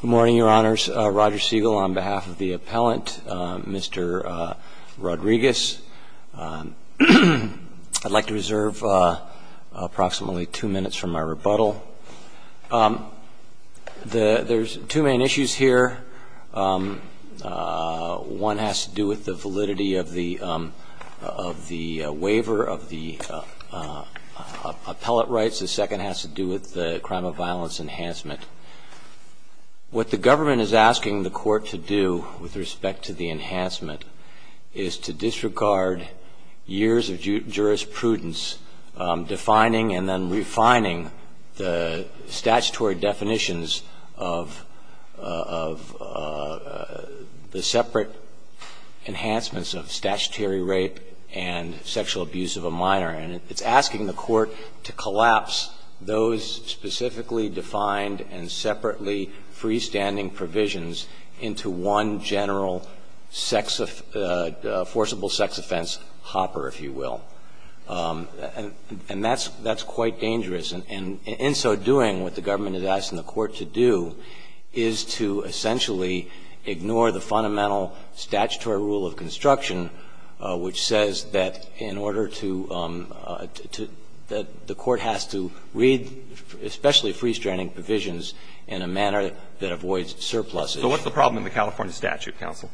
Good morning, your honors. Roger Siegel on behalf of the appellant, Mr. Rodriguez. I'd like to reserve approximately two minutes from my rebuttal. Thank you, Mr. Siegel. There's two main issues here. One has to do with the validity of the waiver of the appellate rights. The second has to do with the crime of violence enhancement. What the government is asking the court to do with respect to the enhancement is to disregard years of jurisprudence defining and then refining the statutory definitions of the separate enhancements of statutory rape and sexual abuse of a minor. And it's asking the court to collapse those specifically defined and separately freestanding provisions into one general sex, forcible sex offense hopper, if you will. And that's quite dangerous. And in so doing, what the government is asking the court to do is to essentially ignore the fundamental statutory rule of construction, which says that in order to – that the court has to read especially freestanding provisions in a manner that avoids surpluses. So what's the problem in the California statute, counsel?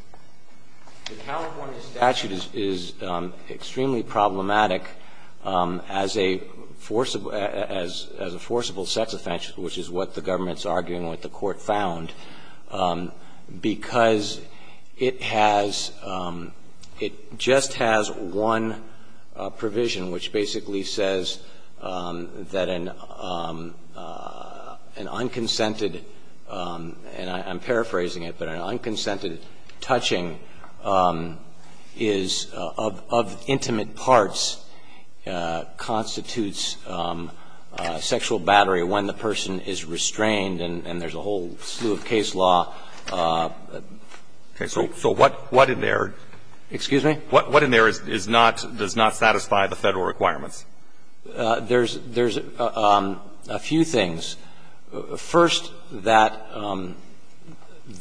The California statute is extremely problematic as a forcible – as a forcible sex offense, which is what the government is arguing, what the court found, because it has – it just has one provision which basically says that an unconsented – and I'm paraphrasing it – but an unconsented touching is of intimate parts constitutes sexual battery when the person is restrained and there's a whole slew of case law. Okay. So what in there? Excuse me? What in there is not – does not satisfy the Federal requirements? There's a few things. First, that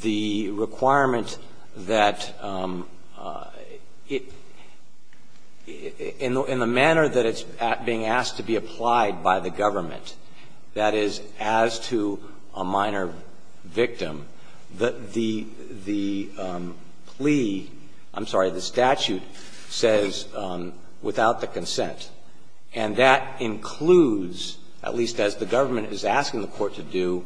the requirement that it – in the manner that it's being asked to be applied by the government, that is, as to a minor victim, the plea – I'm sorry, the statute says without the consent, and that includes, at least as the government is asking the court to do,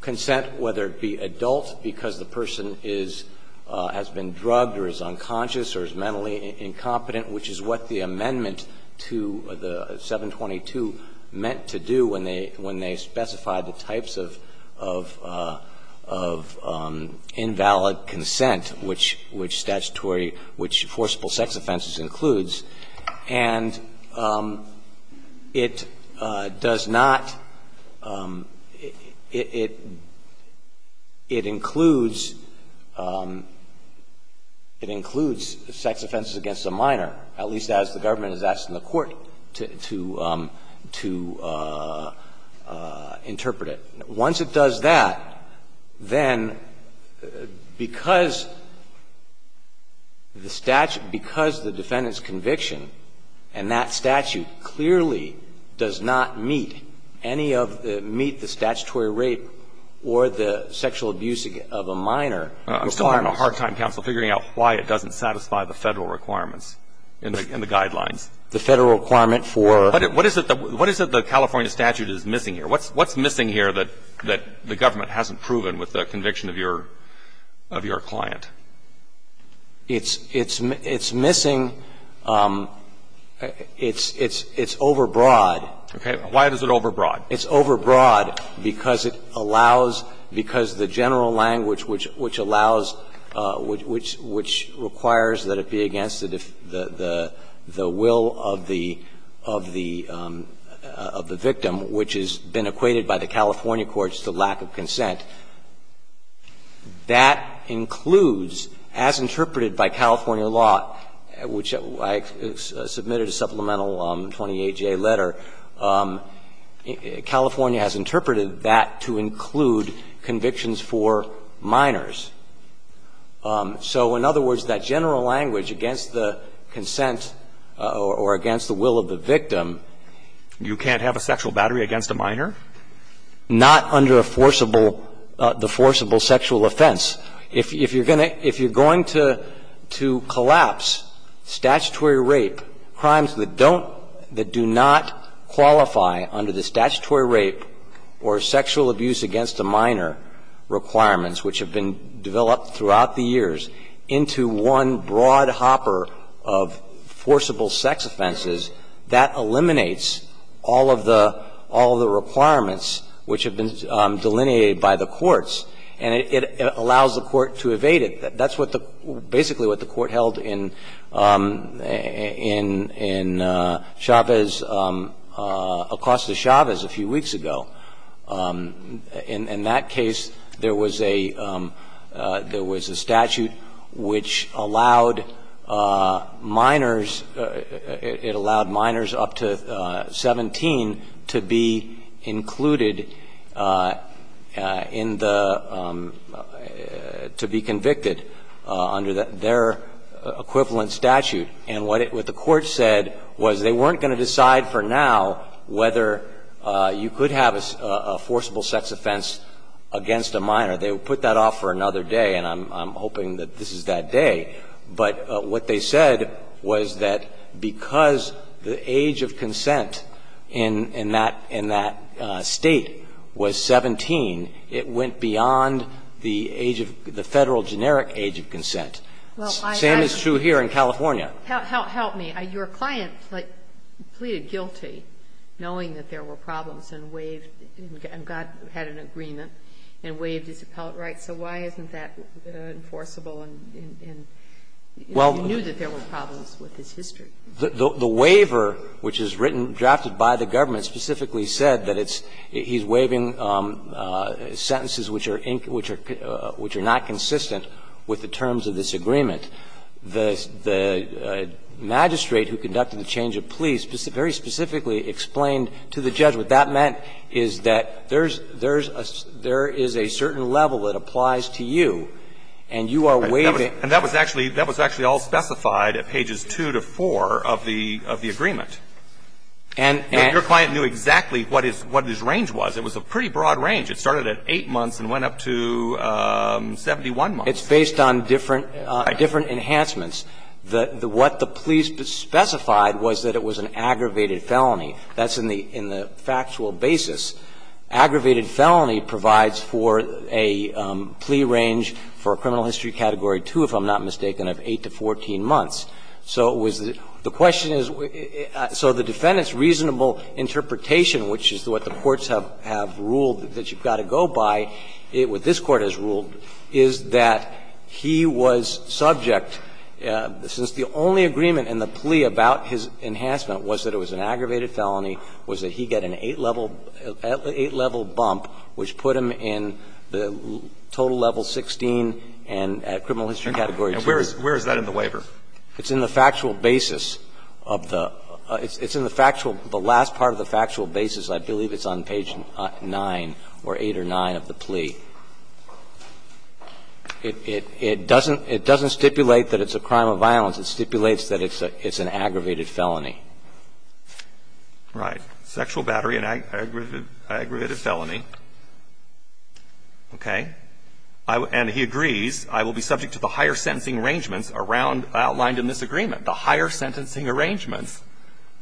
consent, whether it be adult, because the person is – has been drugged or is unconscious or is mentally incompetent, which is what the amendment to the 722 meant to do when they – when they specified the types of – of invalid consent, which statutory – which forcible sex offenses includes. And it does not – it – it includes – it includes sex offenses against a minor, at least as the government is asking the court to – to interpret it. Once it does that, then because the statute – because the defendant's conviction and that statute clearly does not meet any of the – meet the statutory rape or the sexual abuse of a minor requirements. I'm still having a hard time, counsel, figuring out why it doesn't satisfy the Federal requirements in the – in the guidelines. The Federal requirement for – What is it – what is it the California statute is missing here? What's – what's missing here that – that the government hasn't proven with the conviction of your – of your client? It's – it's – it's missing – it's – it's – it's overbroad. Okay. Why is it overbroad? It's overbroad because it allows – because the general language which – which allows – which – which requires that it be against the – the – the will of the of the – of the victim, which has been equated by the California courts to lack of consent, that includes, as interpreted by California law, which I submitted a supplemental 28-J letter, California has interpreted that to include convictions for minors. So, in other words, that general language against the consent or against the will of the victim – You can't have a sexual battery against a minor? Not under a forcible – the forcible sexual offense. If – if you're going to – if you're going to – to collapse statutory rape, crimes that don't – that do not qualify under the statutory rape or sexual abuse against a minor requirements, which have been developed throughout the years, into one broad hopper of forcible sex offenses, that eliminates all of the – all of the requirements which have been delineated by the courts. And it allows the court to evade it. That's what the – basically what the court held in – in – in Chavez, Acosta-Chavez a few weeks ago. In that case, there was a – there was a statute which allowed minors – it allowed minors up to 17 to be included in the – to be convicted under their equivalent statute. And what it – what the court said was they weren't going to decide for now whether you could have a forcible sex offense against a minor. They would put that off for another day, and I'm hoping that this is that day. But what they said was that because the age of consent in – in that – in that State was 17, it went beyond the age of – the Federal generic age of consent. The same is true here in California. Help me. Your client pleaded guilty, knowing that there were problems, and waived – and got – had an agreement and waived his appellate rights. So why isn't that enforceable in – in – if he knew that there were problems with his history? The waiver, which is written, drafted by the government, specifically said that it's – he's waiving sentences which are – which are not consistent with the terms of this agreement. The – the magistrate who conducted the change of plea very specifically explained to the judge what that meant is that there's – there's a – there is a certain level that applies to you, and you are waiving. And that was actually – that was actually all specified at pages 2 to 4 of the – of the agreement. And your client knew exactly what his – what his range was. It was a pretty broad range. It started at 8 months and went up to 71 months. It's based on different – different enhancements. The – what the plea specified was that it was an aggravated felony. That's in the – in the factual basis. Aggravated felony provides for a plea range for a criminal history category 2, if I'm not mistaken, of 8 to 14 months. So it was – the question is – so the defendant's reasonable interpretation, which is what the courts have ruled that you've got to go by, what this Court has ruled is that he was subject, since the only agreement in the plea about his enhancement was that it was an aggravated felony, was that he get an 8-level – 8-level bump, which put him in the total level 16 and criminal history category 2. Alitoson Where is that in the waiver? Verrilli, It's in the factual basis of the – it's in the factual – the last part of the factual basis. I believe it's on page 9 or 8 or 9 of the plea. It doesn't stipulate that it's a crime of violence. It stipulates that it's an aggravated felony. Right. Sexual battery and aggravated felony. Okay. And he agrees, I will be subject to the higher sentencing arrangements around – outlined in this agreement. The higher sentencing arrangements,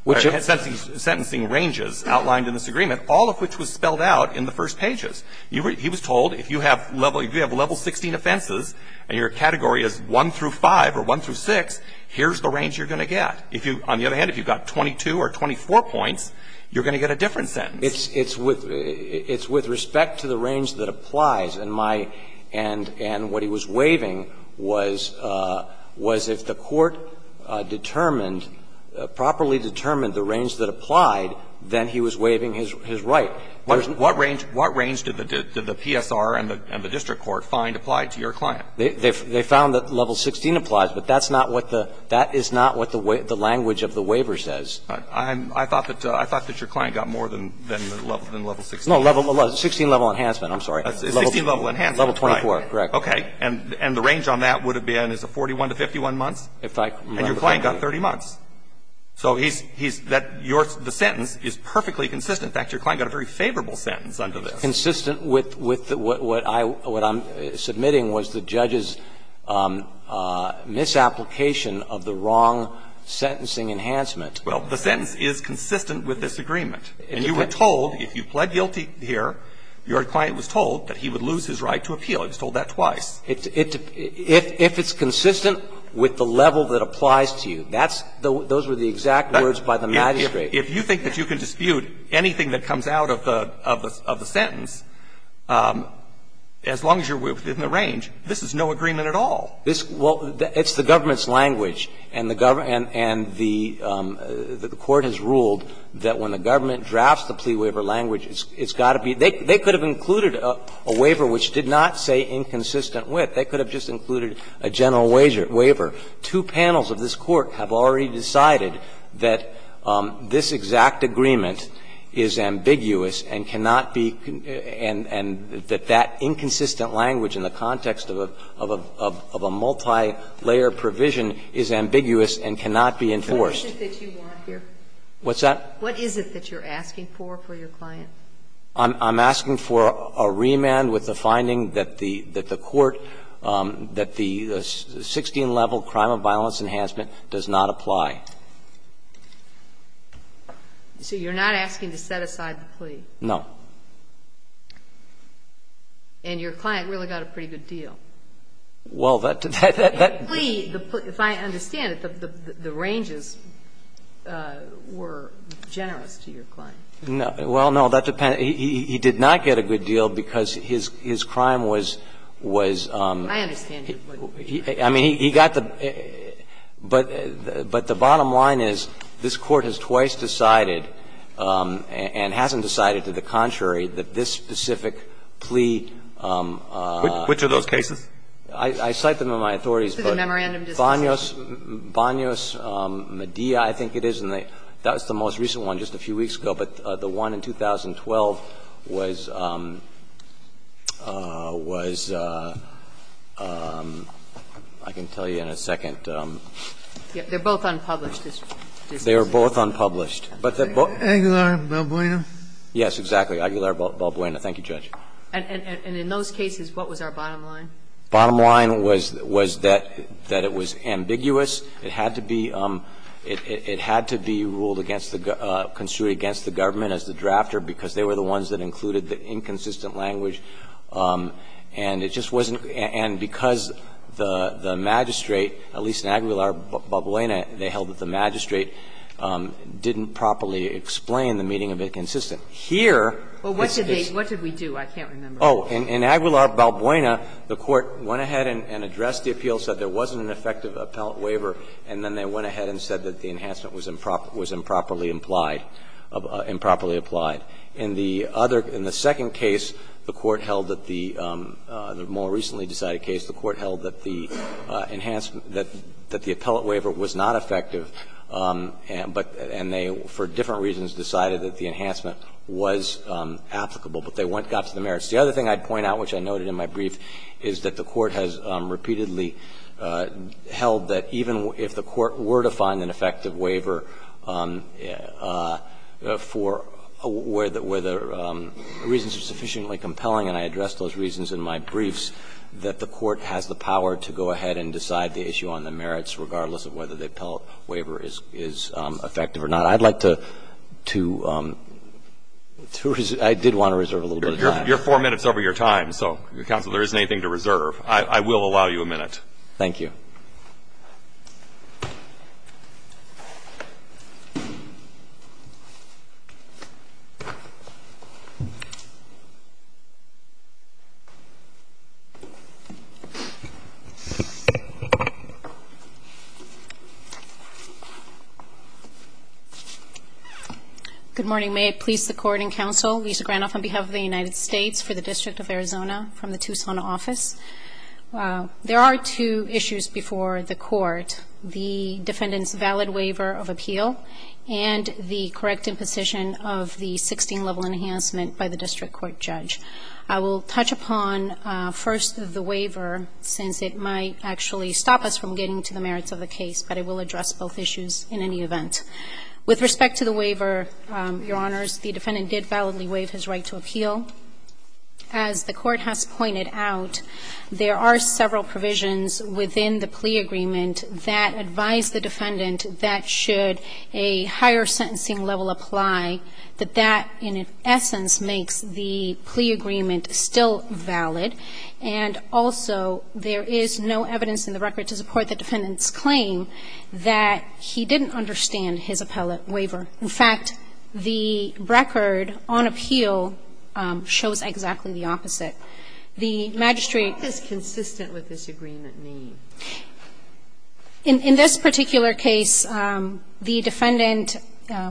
which – sentencing ranges outlined in this agreement, all of which was spelled out in the first pages. He was told if you have level – if you have level 16 offenses and your category is 1 through 5 or 1 through 6, here's the range you're going to get. If you – on the other hand, if you've got 22 or 24 points, you're going to get a different sentence. Verrilli, It's with – it's with respect to the range that applies. And my – and what he was waiving was – was if the court determined – properly determined the range that applied, then he was waiving his right. What range – what range did the PSR and the district court find applied to your client? They found that level 16 applies, but that's not what the – that is not what the language of the waiver says. I thought that your client got more than level 16. No, level – 16 level enhancement, I'm sorry. 16 level enhancement. Level 24, correct. Okay. And the range on that would have been, is it 41 to 51 months? If I remember correctly. And your client got 30 months. So he's – that's your – the sentence is perfectly consistent. In fact, your client got a very favorable sentence under this. It's consistent with – with what I – what I'm submitting was the judge's misapplication of the wrong sentencing enhancement. Well, the sentence is consistent with this agreement. And you were told, if you pled guilty here, your client was told that he would lose his right to appeal. He was told that twice. It – if it's consistent with the level that applies to you, that's – those were the exact words by the magistrate. If you think that you can dispute anything that comes out of the – of the sentence, as long as you're within the range, this is no agreement at all. This – well, it's the government's language. And the government – and the Court has ruled that when the government drafts the plea waiver language, it's got to be – they could have included a waiver which did not say inconsistent with. They could have just included a general waiver. They could have just included a statute waiver. Two panels of this Court have already decided that this exact agreement is ambiguous and cannot be – and that that inconsistent language in the context of a – of a multi-layer provision is ambiguous and cannot be enforced. What is it that you want here? What's that? What is it that you're asking for, for your client? I'm asking for a remand with the finding that the – that the Court – that the 16-level crime of violence enhancement does not apply. So you're not asking to set aside the plea? No. And your client really got a pretty good deal. Well, that – that – that – The plea, if I understand it, the ranges were generous to your client. No. Well, no, that depends. He did not get a good deal because his – his crime was – was – I understand your point. I mean, he got the – but the bottom line is this Court has twice decided and hasn't decided to the contrary that this specific plea – Which of those cases? I cite them in my authorities, but Banos Medea, I think it is, and that was the most recent one just a few weeks ago, but the one in 2012 was – was – I can tell you in a second. They're both unpublished. They are both unpublished. Aguilar-Balbuena? Yes, exactly. Aguilar-Balbuena. Thank you, Judge. And in those cases, what was our bottom line? Bottom line was – was that – that it was ambiguous. It had to be – it had to be ruled against the – construed against the government as the drafter because they were the ones that included the inconsistent language, and it just wasn't – and because the – the magistrate, at least in Aguilar-Balbuena, they held that the magistrate didn't properly explain the meaning of inconsistent. Here, this is the – Well, what did they – what did we do? I can't remember. Oh. In Aguilar-Balbuena, the Court went ahead and addressed the appeal, said there wasn't an effective appellate waiver, and then they went ahead and said that the enhancement was improper – was improperly implied – improperly applied. In the other – in the second case, the Court held that the – the more recently decided case, the Court held that the enhancement – that the appellate waiver was not effective, but – and they, for different reasons, decided that the enhancement was applicable, but they went – got to the merits. The other thing I'd point out, which I noted in my brief, is that the Court has repeatedly held that even if the Court were to find an effective waiver for – where the – where the reasons are sufficiently compelling, and I addressed those reasons in my briefs, that the Court has the power to go ahead and decide the issue on the merits, regardless of whether the appellate waiver is effective or not. I'd like to – to – I did want to reserve a little bit of time. You're four minutes over your time, so, counsel, there isn't anything to reserve. I will allow you a minute. Thank you. Good morning. May it please the Court and counsel, Lisa Granoff on behalf of the United States for the District of Arizona, from the Tucson office. There are two issues before the Court, the defendant's valid waiver of appeal and the correct imposition of the 16-level enhancement by the district court judge. I will touch upon first the waiver, since it might actually stop us from getting to the merits of the case, but it will address both issues in any event. With respect to the waiver, Your Honors, the defendant did validly waive his right to appeal. As the Court has pointed out, there are several provisions within the plea agreement that advise the defendant that should a higher sentencing level apply, that that in essence makes the plea agreement still valid, and also there is no evidence in the record to support the defendant's claim that he didn't understand his appellate waiver. In fact, the record on appeal shows exactly the opposite. The magistrate ---- What is consistent with this agreement need? In this particular case, the defendant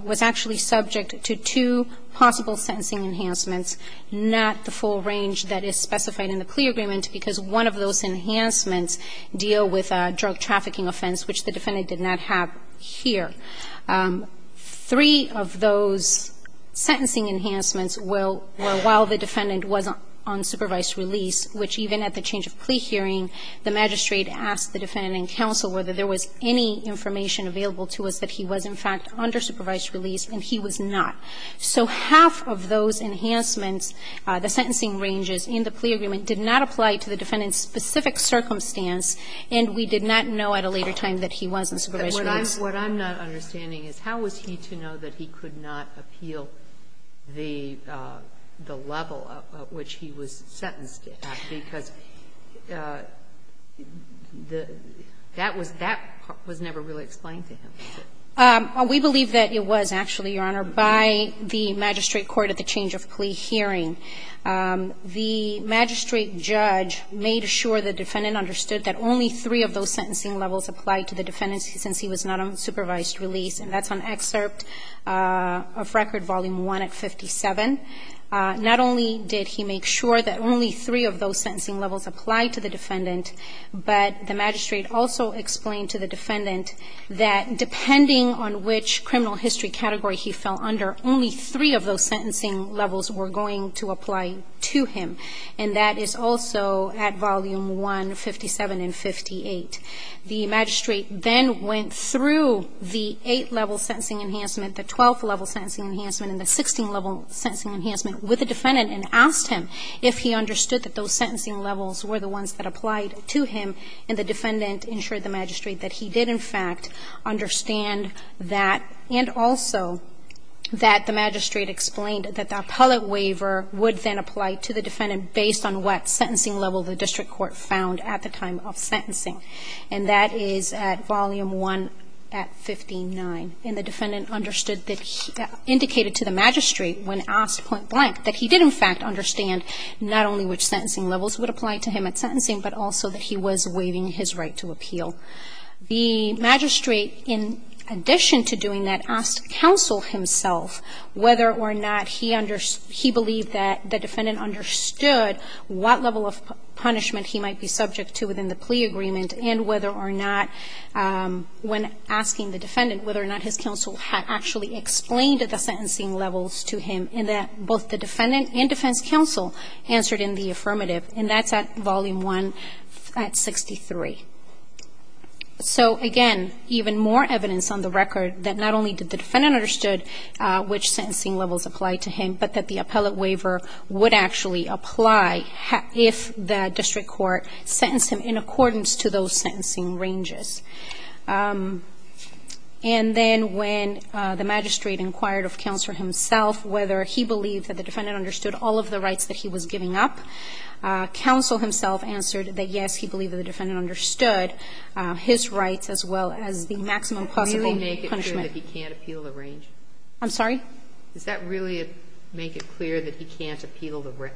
was actually subject to two possible sentencing enhancements, not the full range that is specified in the plea agreement, because one of those enhancements deal with a drug trafficking offense, which the defendant did not have here. Three of those sentencing enhancements were while the defendant was on supervised release, which even at the change of plea hearing, the magistrate asked the defendant and counsel whether there was any information available to us that he was, in fact, under supervised release, and he was not. So half of those enhancements, the sentencing ranges in the plea agreement, did not apply to the defendant's specific circumstance, and we did not know at a later time that he was under supervised release. Sotomayor, what I'm not understanding is how was he to know that he could not appeal the level at which he was sentenced at, because the ---- that was never really explained to him. We believe that it was, actually, Your Honor, by the magistrate court at the change of plea hearing. The magistrate judge made sure the defendant understood that only three of those sentencing levels applied to the defendant since he was not on supervised release, and that's on excerpt of Record Volume 1 at 57. Not only did he make sure that only three of those sentencing levels applied to the defendant, but the magistrate also explained to the defendant that depending on which criminal history category he fell under, only three of those sentencing levels were going to apply to him, and that is also at Volume 1, 57 and 58. The magistrate then went through the 8-level sentencing enhancement, the 12-level sentencing enhancement, and the 16-level sentencing enhancement with the defendant and asked him if he understood that those sentencing levels were the ones that applied to him, and the defendant ensured the magistrate that he did, in fact, understand that, and also that the magistrate explained that the appellate waiver would then apply to the defendant based on what sentencing level the district court found at the time of sentencing, and that is at Volume 1 at 59. And the defendant understood that he indicated to the magistrate, when asked point blank, that he did, in fact, understand not only which sentencing levels would apply to him at sentencing, but also that he was waiving his right to appeal. The magistrate, in addition to doing that, asked counsel himself whether or not he understood he believed that the defendant understood what level of punishment he might be subject to within the plea agreement, and whether or not, when asking the defendant, whether or not his counsel had actually explained the sentencing levels to him, and that both the defendant and defense counsel answered in the So, again, even more evidence on the record that not only did the defendant understood which sentencing levels applied to him, but that the appellate waiver would actually apply if the district court sentenced him in accordance to those sentencing ranges. And then, when the magistrate inquired of counsel himself whether he believed that the defendant understood all of the rights that he was giving up, counsel himself answered that, yes, he believed that the defendant understood his rights as well as the maximum possible punishment. Sotomayor, can you make it clear that he can't appeal the range? I'm sorry? Does that really make it clear that he can't appeal the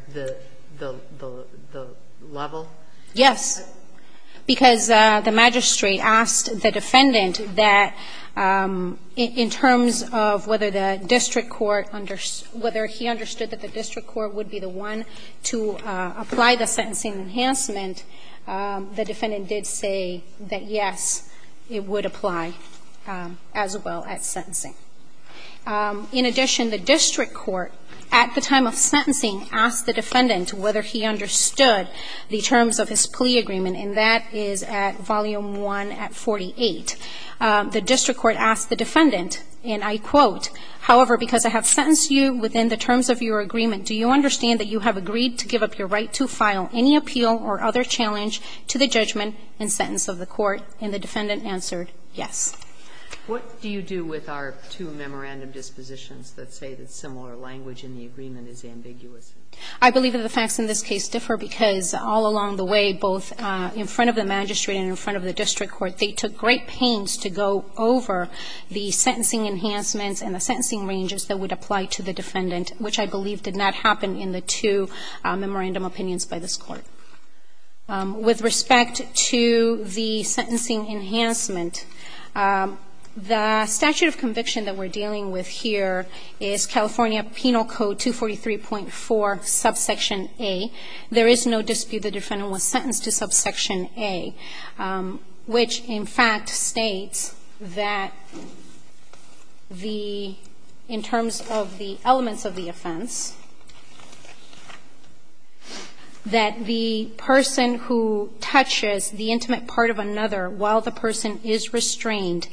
level? Yes. Because the magistrate asked the defendant that, in terms of whether the district court understood the district court would be the one to apply the sentencing level, and that was an enhancement, the defendant did say that, yes, it would apply as well as sentencing. In addition, the district court, at the time of sentencing, asked the defendant whether he understood the terms of his plea agreement, and that is at Volume 1 at 48. The district court asked the defendant, and I quote, however, because I have sentenced you within the terms of your agreement, do you understand that you have agreed to give up your right to file any appeal or other challenge to the judgment and sentence of the court? And the defendant answered, yes. What do you do with our two memorandum dispositions that say that similar language in the agreement is ambiguous? I believe that the facts in this case differ because all along the way, both in front of the magistrate and in front of the district court, they took great pains to go over the sentencing enhancements and the sentencing ranges that would apply to the defendant, which I believe did not happen in the two memorandum opinions by this court. With respect to the sentencing enhancement, the statute of conviction that we're dealing with here is California Penal Code 243.4, subsection A. There is no dispute the defendant was sentenced to subsection A, which in fact states that the – in terms of the elements of the offense, that the person who touches the intimate part of another while the person is restrained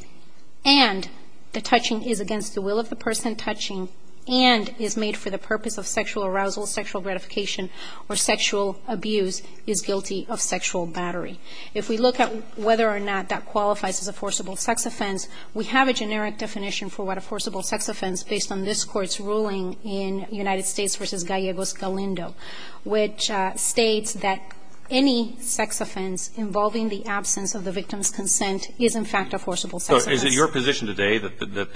and the touching is against the will of the person touching and is made for the purpose of sexual arousal, sexual gratification, or sexual abuse is guilty of sexual battery. If we look at whether or not that qualifies as a forcible sex offense, we have a generic definition for what a forcible sex offense based on this Court's ruling in United States v. Gallegos-Galindo, which states that any sex offense involving the absence of the victim's consent is in fact a forcible sex offense. So is it your position today that the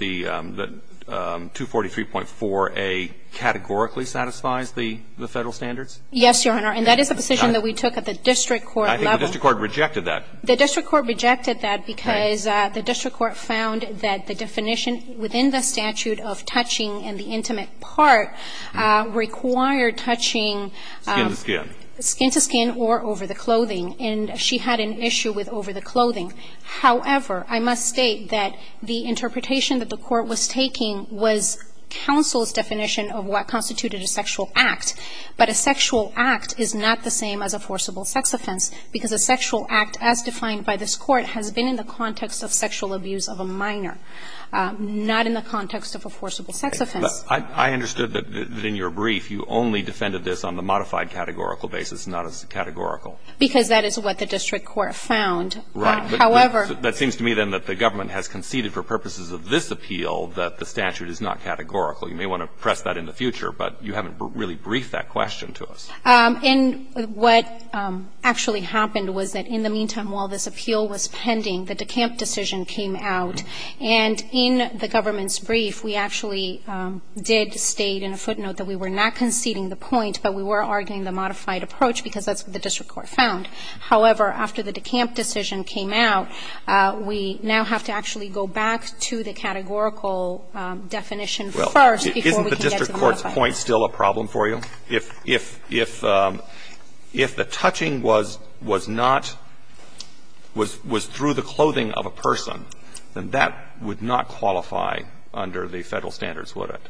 243.4a categorically satisfies the Federal standards? Yes, Your Honor. And that is a decision that we took at the district court level. I think the district court rejected that. The district court rejected that because the district court found that the definition within the statute of touching and the intimate part required touching skin to skin or over the clothing. And she had an issue with over the clothing. However, I must state that the interpretation that the court was taking was counsel's definition of what constituted a sexual act. But a sexual act is not the same as a forcible sex offense. Because a sexual act as defined by this Court has been in the context of sexual abuse of a minor, not in the context of a forcible sex offense. But I understood that in your brief you only defended this on the modified categorical basis, not as categorical. Because that is what the district court found. Right. However. That seems to me, then, that the government has conceded for purposes of this appeal that the statute is not categorical. You may want to press that in the future, but you haven't really briefed that question to us. And what actually happened was that in the meantime, while this appeal was pending, the DeCamp decision came out. And in the government's brief, we actually did state in a footnote that we were not conceding the point, but we were arguing the modified approach, because that's what the district court found. However, after the DeCamp decision came out, we now have to actually go back to the categorical definition first before we can get to the modified. Roberts, is the point still a problem for you? If the touching was not – was through the clothing of a person, then that would not qualify under the Federal standards, would it?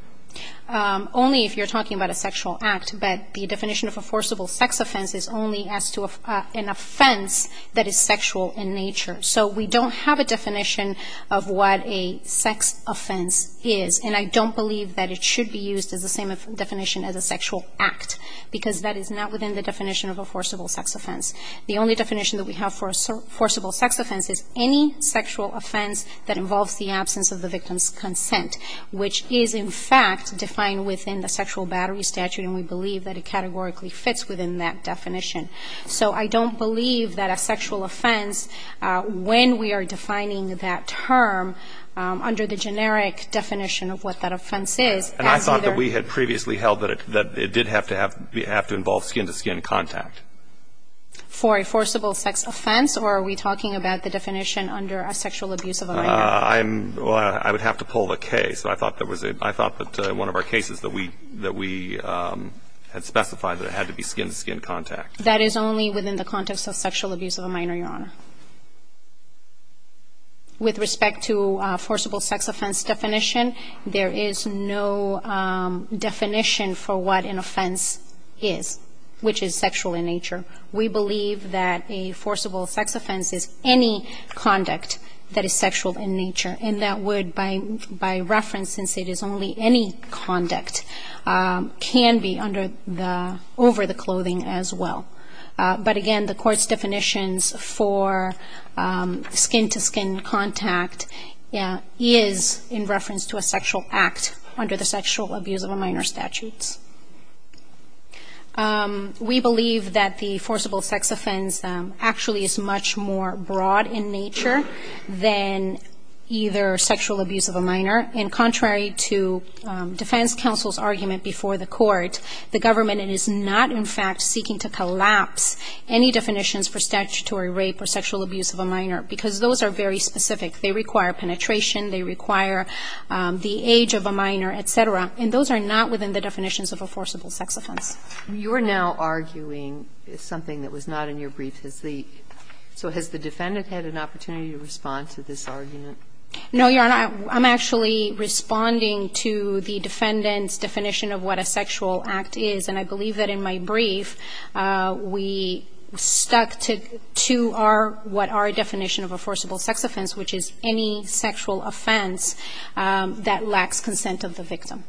Only if you're talking about a sexual act. But the definition of a forcible sex offense is only as to an offense that is sexual in nature. So we don't have a definition of what a sex offense is, and I don't believe that it should be used as the same definition as a sexual act, because that is not within the definition of a forcible sex offense. The only definition that we have for a forcible sex offense is any sexual offense that involves the absence of the victim's consent, which is, in fact, defined within the sexual battery statute, and we believe that it categorically fits within that definition. So I don't believe that a sexual offense, when we are defining that term under the And I thought that we had previously held that it did have to involve skin-to-skin contact. For a forcible sex offense, or are we talking about the definition under a sexual abuse of a minor? I'm – well, I would have to pull the case, but I thought that was a – I thought that one of our cases that we had specified that it had to be skin-to-skin contact. That is only within the context of sexual abuse of a minor, Your Honor. With respect to forcible sex offense definition, there is no definition for what an offense is, which is sexual in nature. We believe that a forcible sex offense is any conduct that is sexual in nature, and that would, by reference, since it is only any conduct, can be under the – over the clothing as well. But again, the Court's definitions for skin-to-skin contact is in reference to a sexual act under the sexual abuse of a minor statutes. We believe that the forcible sex offense actually is much more broad in nature than either sexual abuse of a minor, and contrary to defense counsel's argument before the Court, the government is not, in fact, seeking to collapse any definitions for statutory rape or sexual abuse of a minor, because those are very specific. They require penetration, they require the age of a minor, et cetera, and those are not within the definitions of a forcible sex offense. You're now arguing something that was not in your brief. So has the defendant had an opportunity to respond to this argument? No, Your Honor. I'm actually responding to the defendant's definition of what a sexual act is, and I believe that in my brief we stuck to our – what our definition of a forcible sex offense, which is any sexual offense that lacks consent of the victim.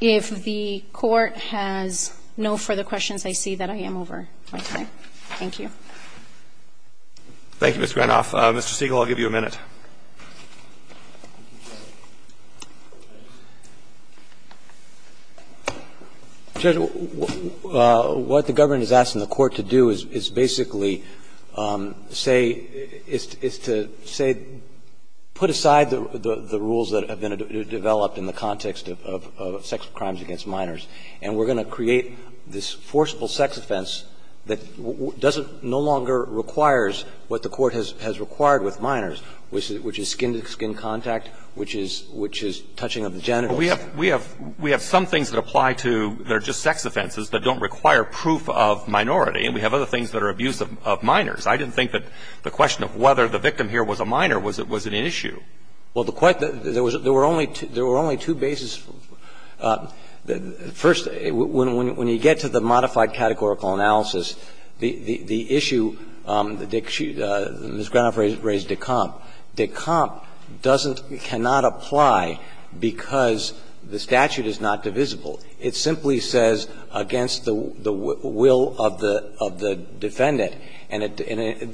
If the Court has no further questions, I see that I am over my time. Thank you. Thank you, Ms. Granoff. Mr. Siegel, I'll give you a minute. Judge, what the government is asking the Court to do is basically say, if the defendant is to say, put aside the rules that have been developed in the context of sex crimes against minors, and we're going to create this forcible sex offense that doesn't no longer requires what the Court has required with minors, which is skin-to-skin contact, which is touching of the genitals. We have some things that apply to – that are just sex offenses that don't require proof of minority, and we have other things that are abuse of minors. I didn't think that the question of whether the victim here was a minor was an issue. Well, the question – there were only two bases. First, when you get to the modified categorical analysis, the issue that Ms. Granoff raised, de compre, de compre cannot apply because the statute is not divisible. It simply says against the will of the defendant. And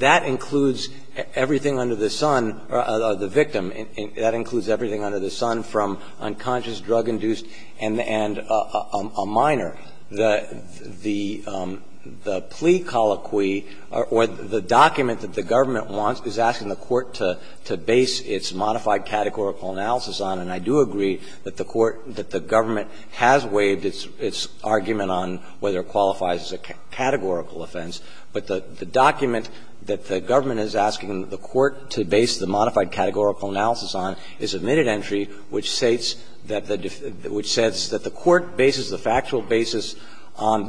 that includes everything under the son – or the victim. That includes everything under the son from unconscious, drug-induced and a minor. The plea colloquy, or the document that the government wants, is asking the Court to base its modified categorical analysis on. And I do agree that the Court – that the government has waived its argument on whether it qualifies as a categorical offense, but the document that the government is asking the Court to base the modified categorical analysis on is a minute entry which states that the – which says that the Court bases the factual basis on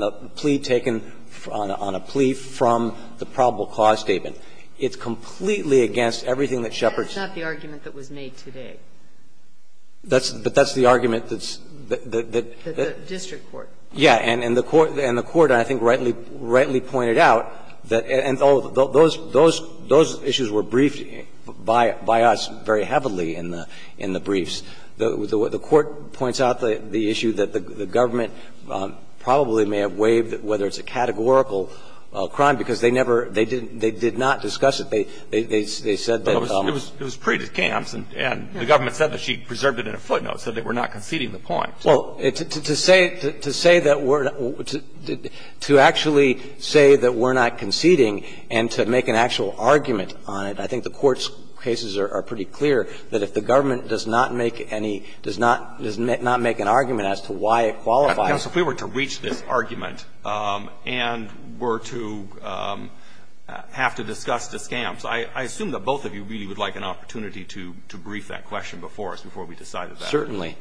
the plea taken – on a plea from the probable cause statement. It's completely against everything that Shepard said. But that's not the argument that was made today. That's – but that's the argument that's – that the – that the district court. Yeah. And the Court – and the Court, I think, rightly pointed out that – and those issues were briefed by us very heavily in the briefs. The Court points out the issue that the government probably may have waived whether it's a categorical crime, because they never – they did not discuss it. They said that the – It was pre-discounts, and the government said that she preserved it in a footnote, said that we're not conceding the point. Well, to say – to say that we're – to actually say that we're not conceding and to make an actual argument on it, I think the Court's cases are pretty clear that if the government does not make any – does not make an argument as to why it qualifies. Counsel, if we were to reach this argument and were to have to discuss discounts, I assume that both of you really would like an opportunity to brief that question before us, before we decided that. Certainly.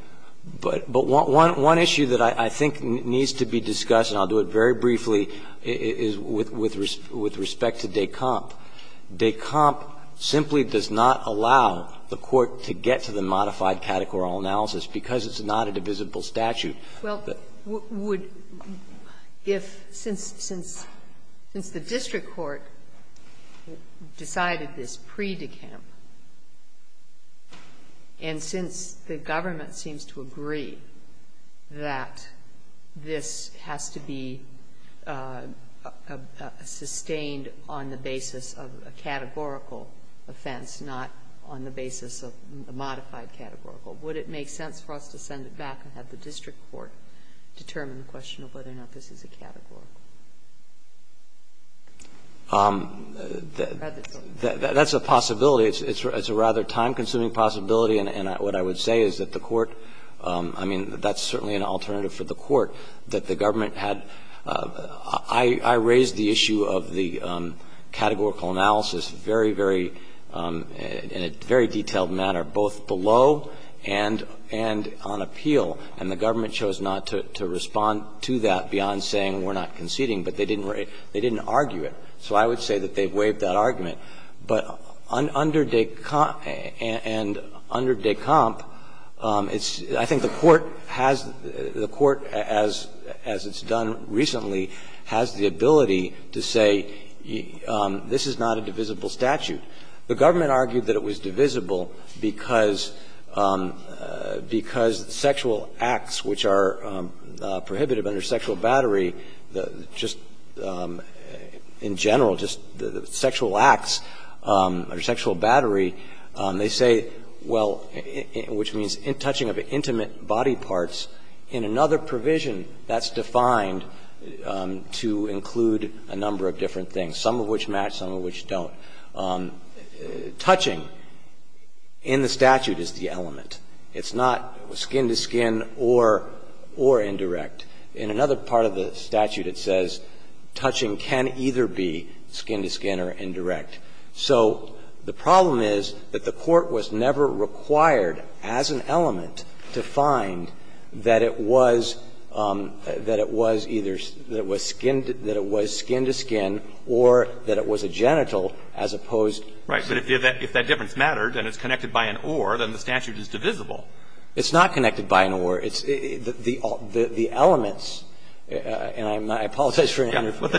But – but one issue that I think needs to be discussed, and I'll do it very briefly, is with respect to Descamp. Descamp simply does not allow the Court to get to the modified categorical analysis, because it's not a divisible statute. Well, would – if – since – since the district court decided this pre-Descamp and since the government seems to agree that this has to be sustained on the basis of a categorical offense, not on the basis of a modified categorical, would it make sense for us to send it back and have the district court determine the question of whether or not this is a categorical? That's a possibility. It's a rather time-consuming possibility, and what I would say is that the Court – I mean, that's certainly an alternative for the Court, that the government had – I raised the issue of the categorical analysis very, very – in a very detailed manner, both below and on appeal, and the government chose not to respond to that beyond saying we're not conceding, but they didn't argue it. So I would say that they've waived that argument. But under Descamp, it's – I think the Court has – the Court, as it's done recently, has the ability to say this is not a divisible statute. The government argued that it was divisible because sexual acts which are prohibitive under sexual battery, just in general, just sexual acts under sexual battery, they say, well, which means touching of intimate body parts in another provision that's defined to include a number of different things, some of which match, some of which don't. Touching in the statute is the element. It's not skin to skin or indirect. In another part of the statute, it says touching can either be skin to skin or indirect. So the problem is that the Court was never required as an element to find that it was that it was either – that it was skin to skin or that it was a genital, as opposed to skin to skin. Right. But if that difference mattered and it's connected by an or, then the statute is divisible. It's not connected by an or. It's the elements, and I'm not – I apologize for interfering. Yeah, but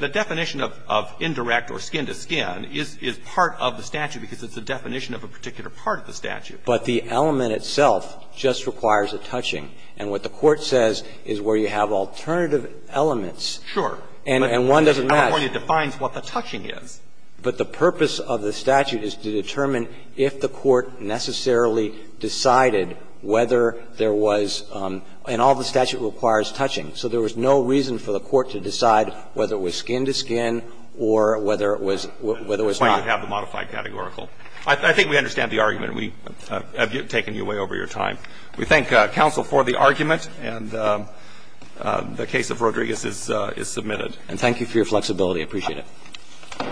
the definition of indirect or skin to skin is part of the statute because it's a definition of a particular part of the statute. But the element itself just requires a touching. And what the Court says is where you have alternative elements. Sure. And one doesn't match. At one point, it defines what the touching is. But the purpose of the statute is to determine if the Court necessarily decided whether there was – and all the statute requires touching. So there was no reason for the Court to decide whether it was skin to skin or whether it was – whether it was not. That's why you have the modified categorical. I think we understand the argument, and we have taken you way over your time. We thank counsel for the argument, and the case of Rodriguez is submitted. And thank you for your flexibility. I appreciate it.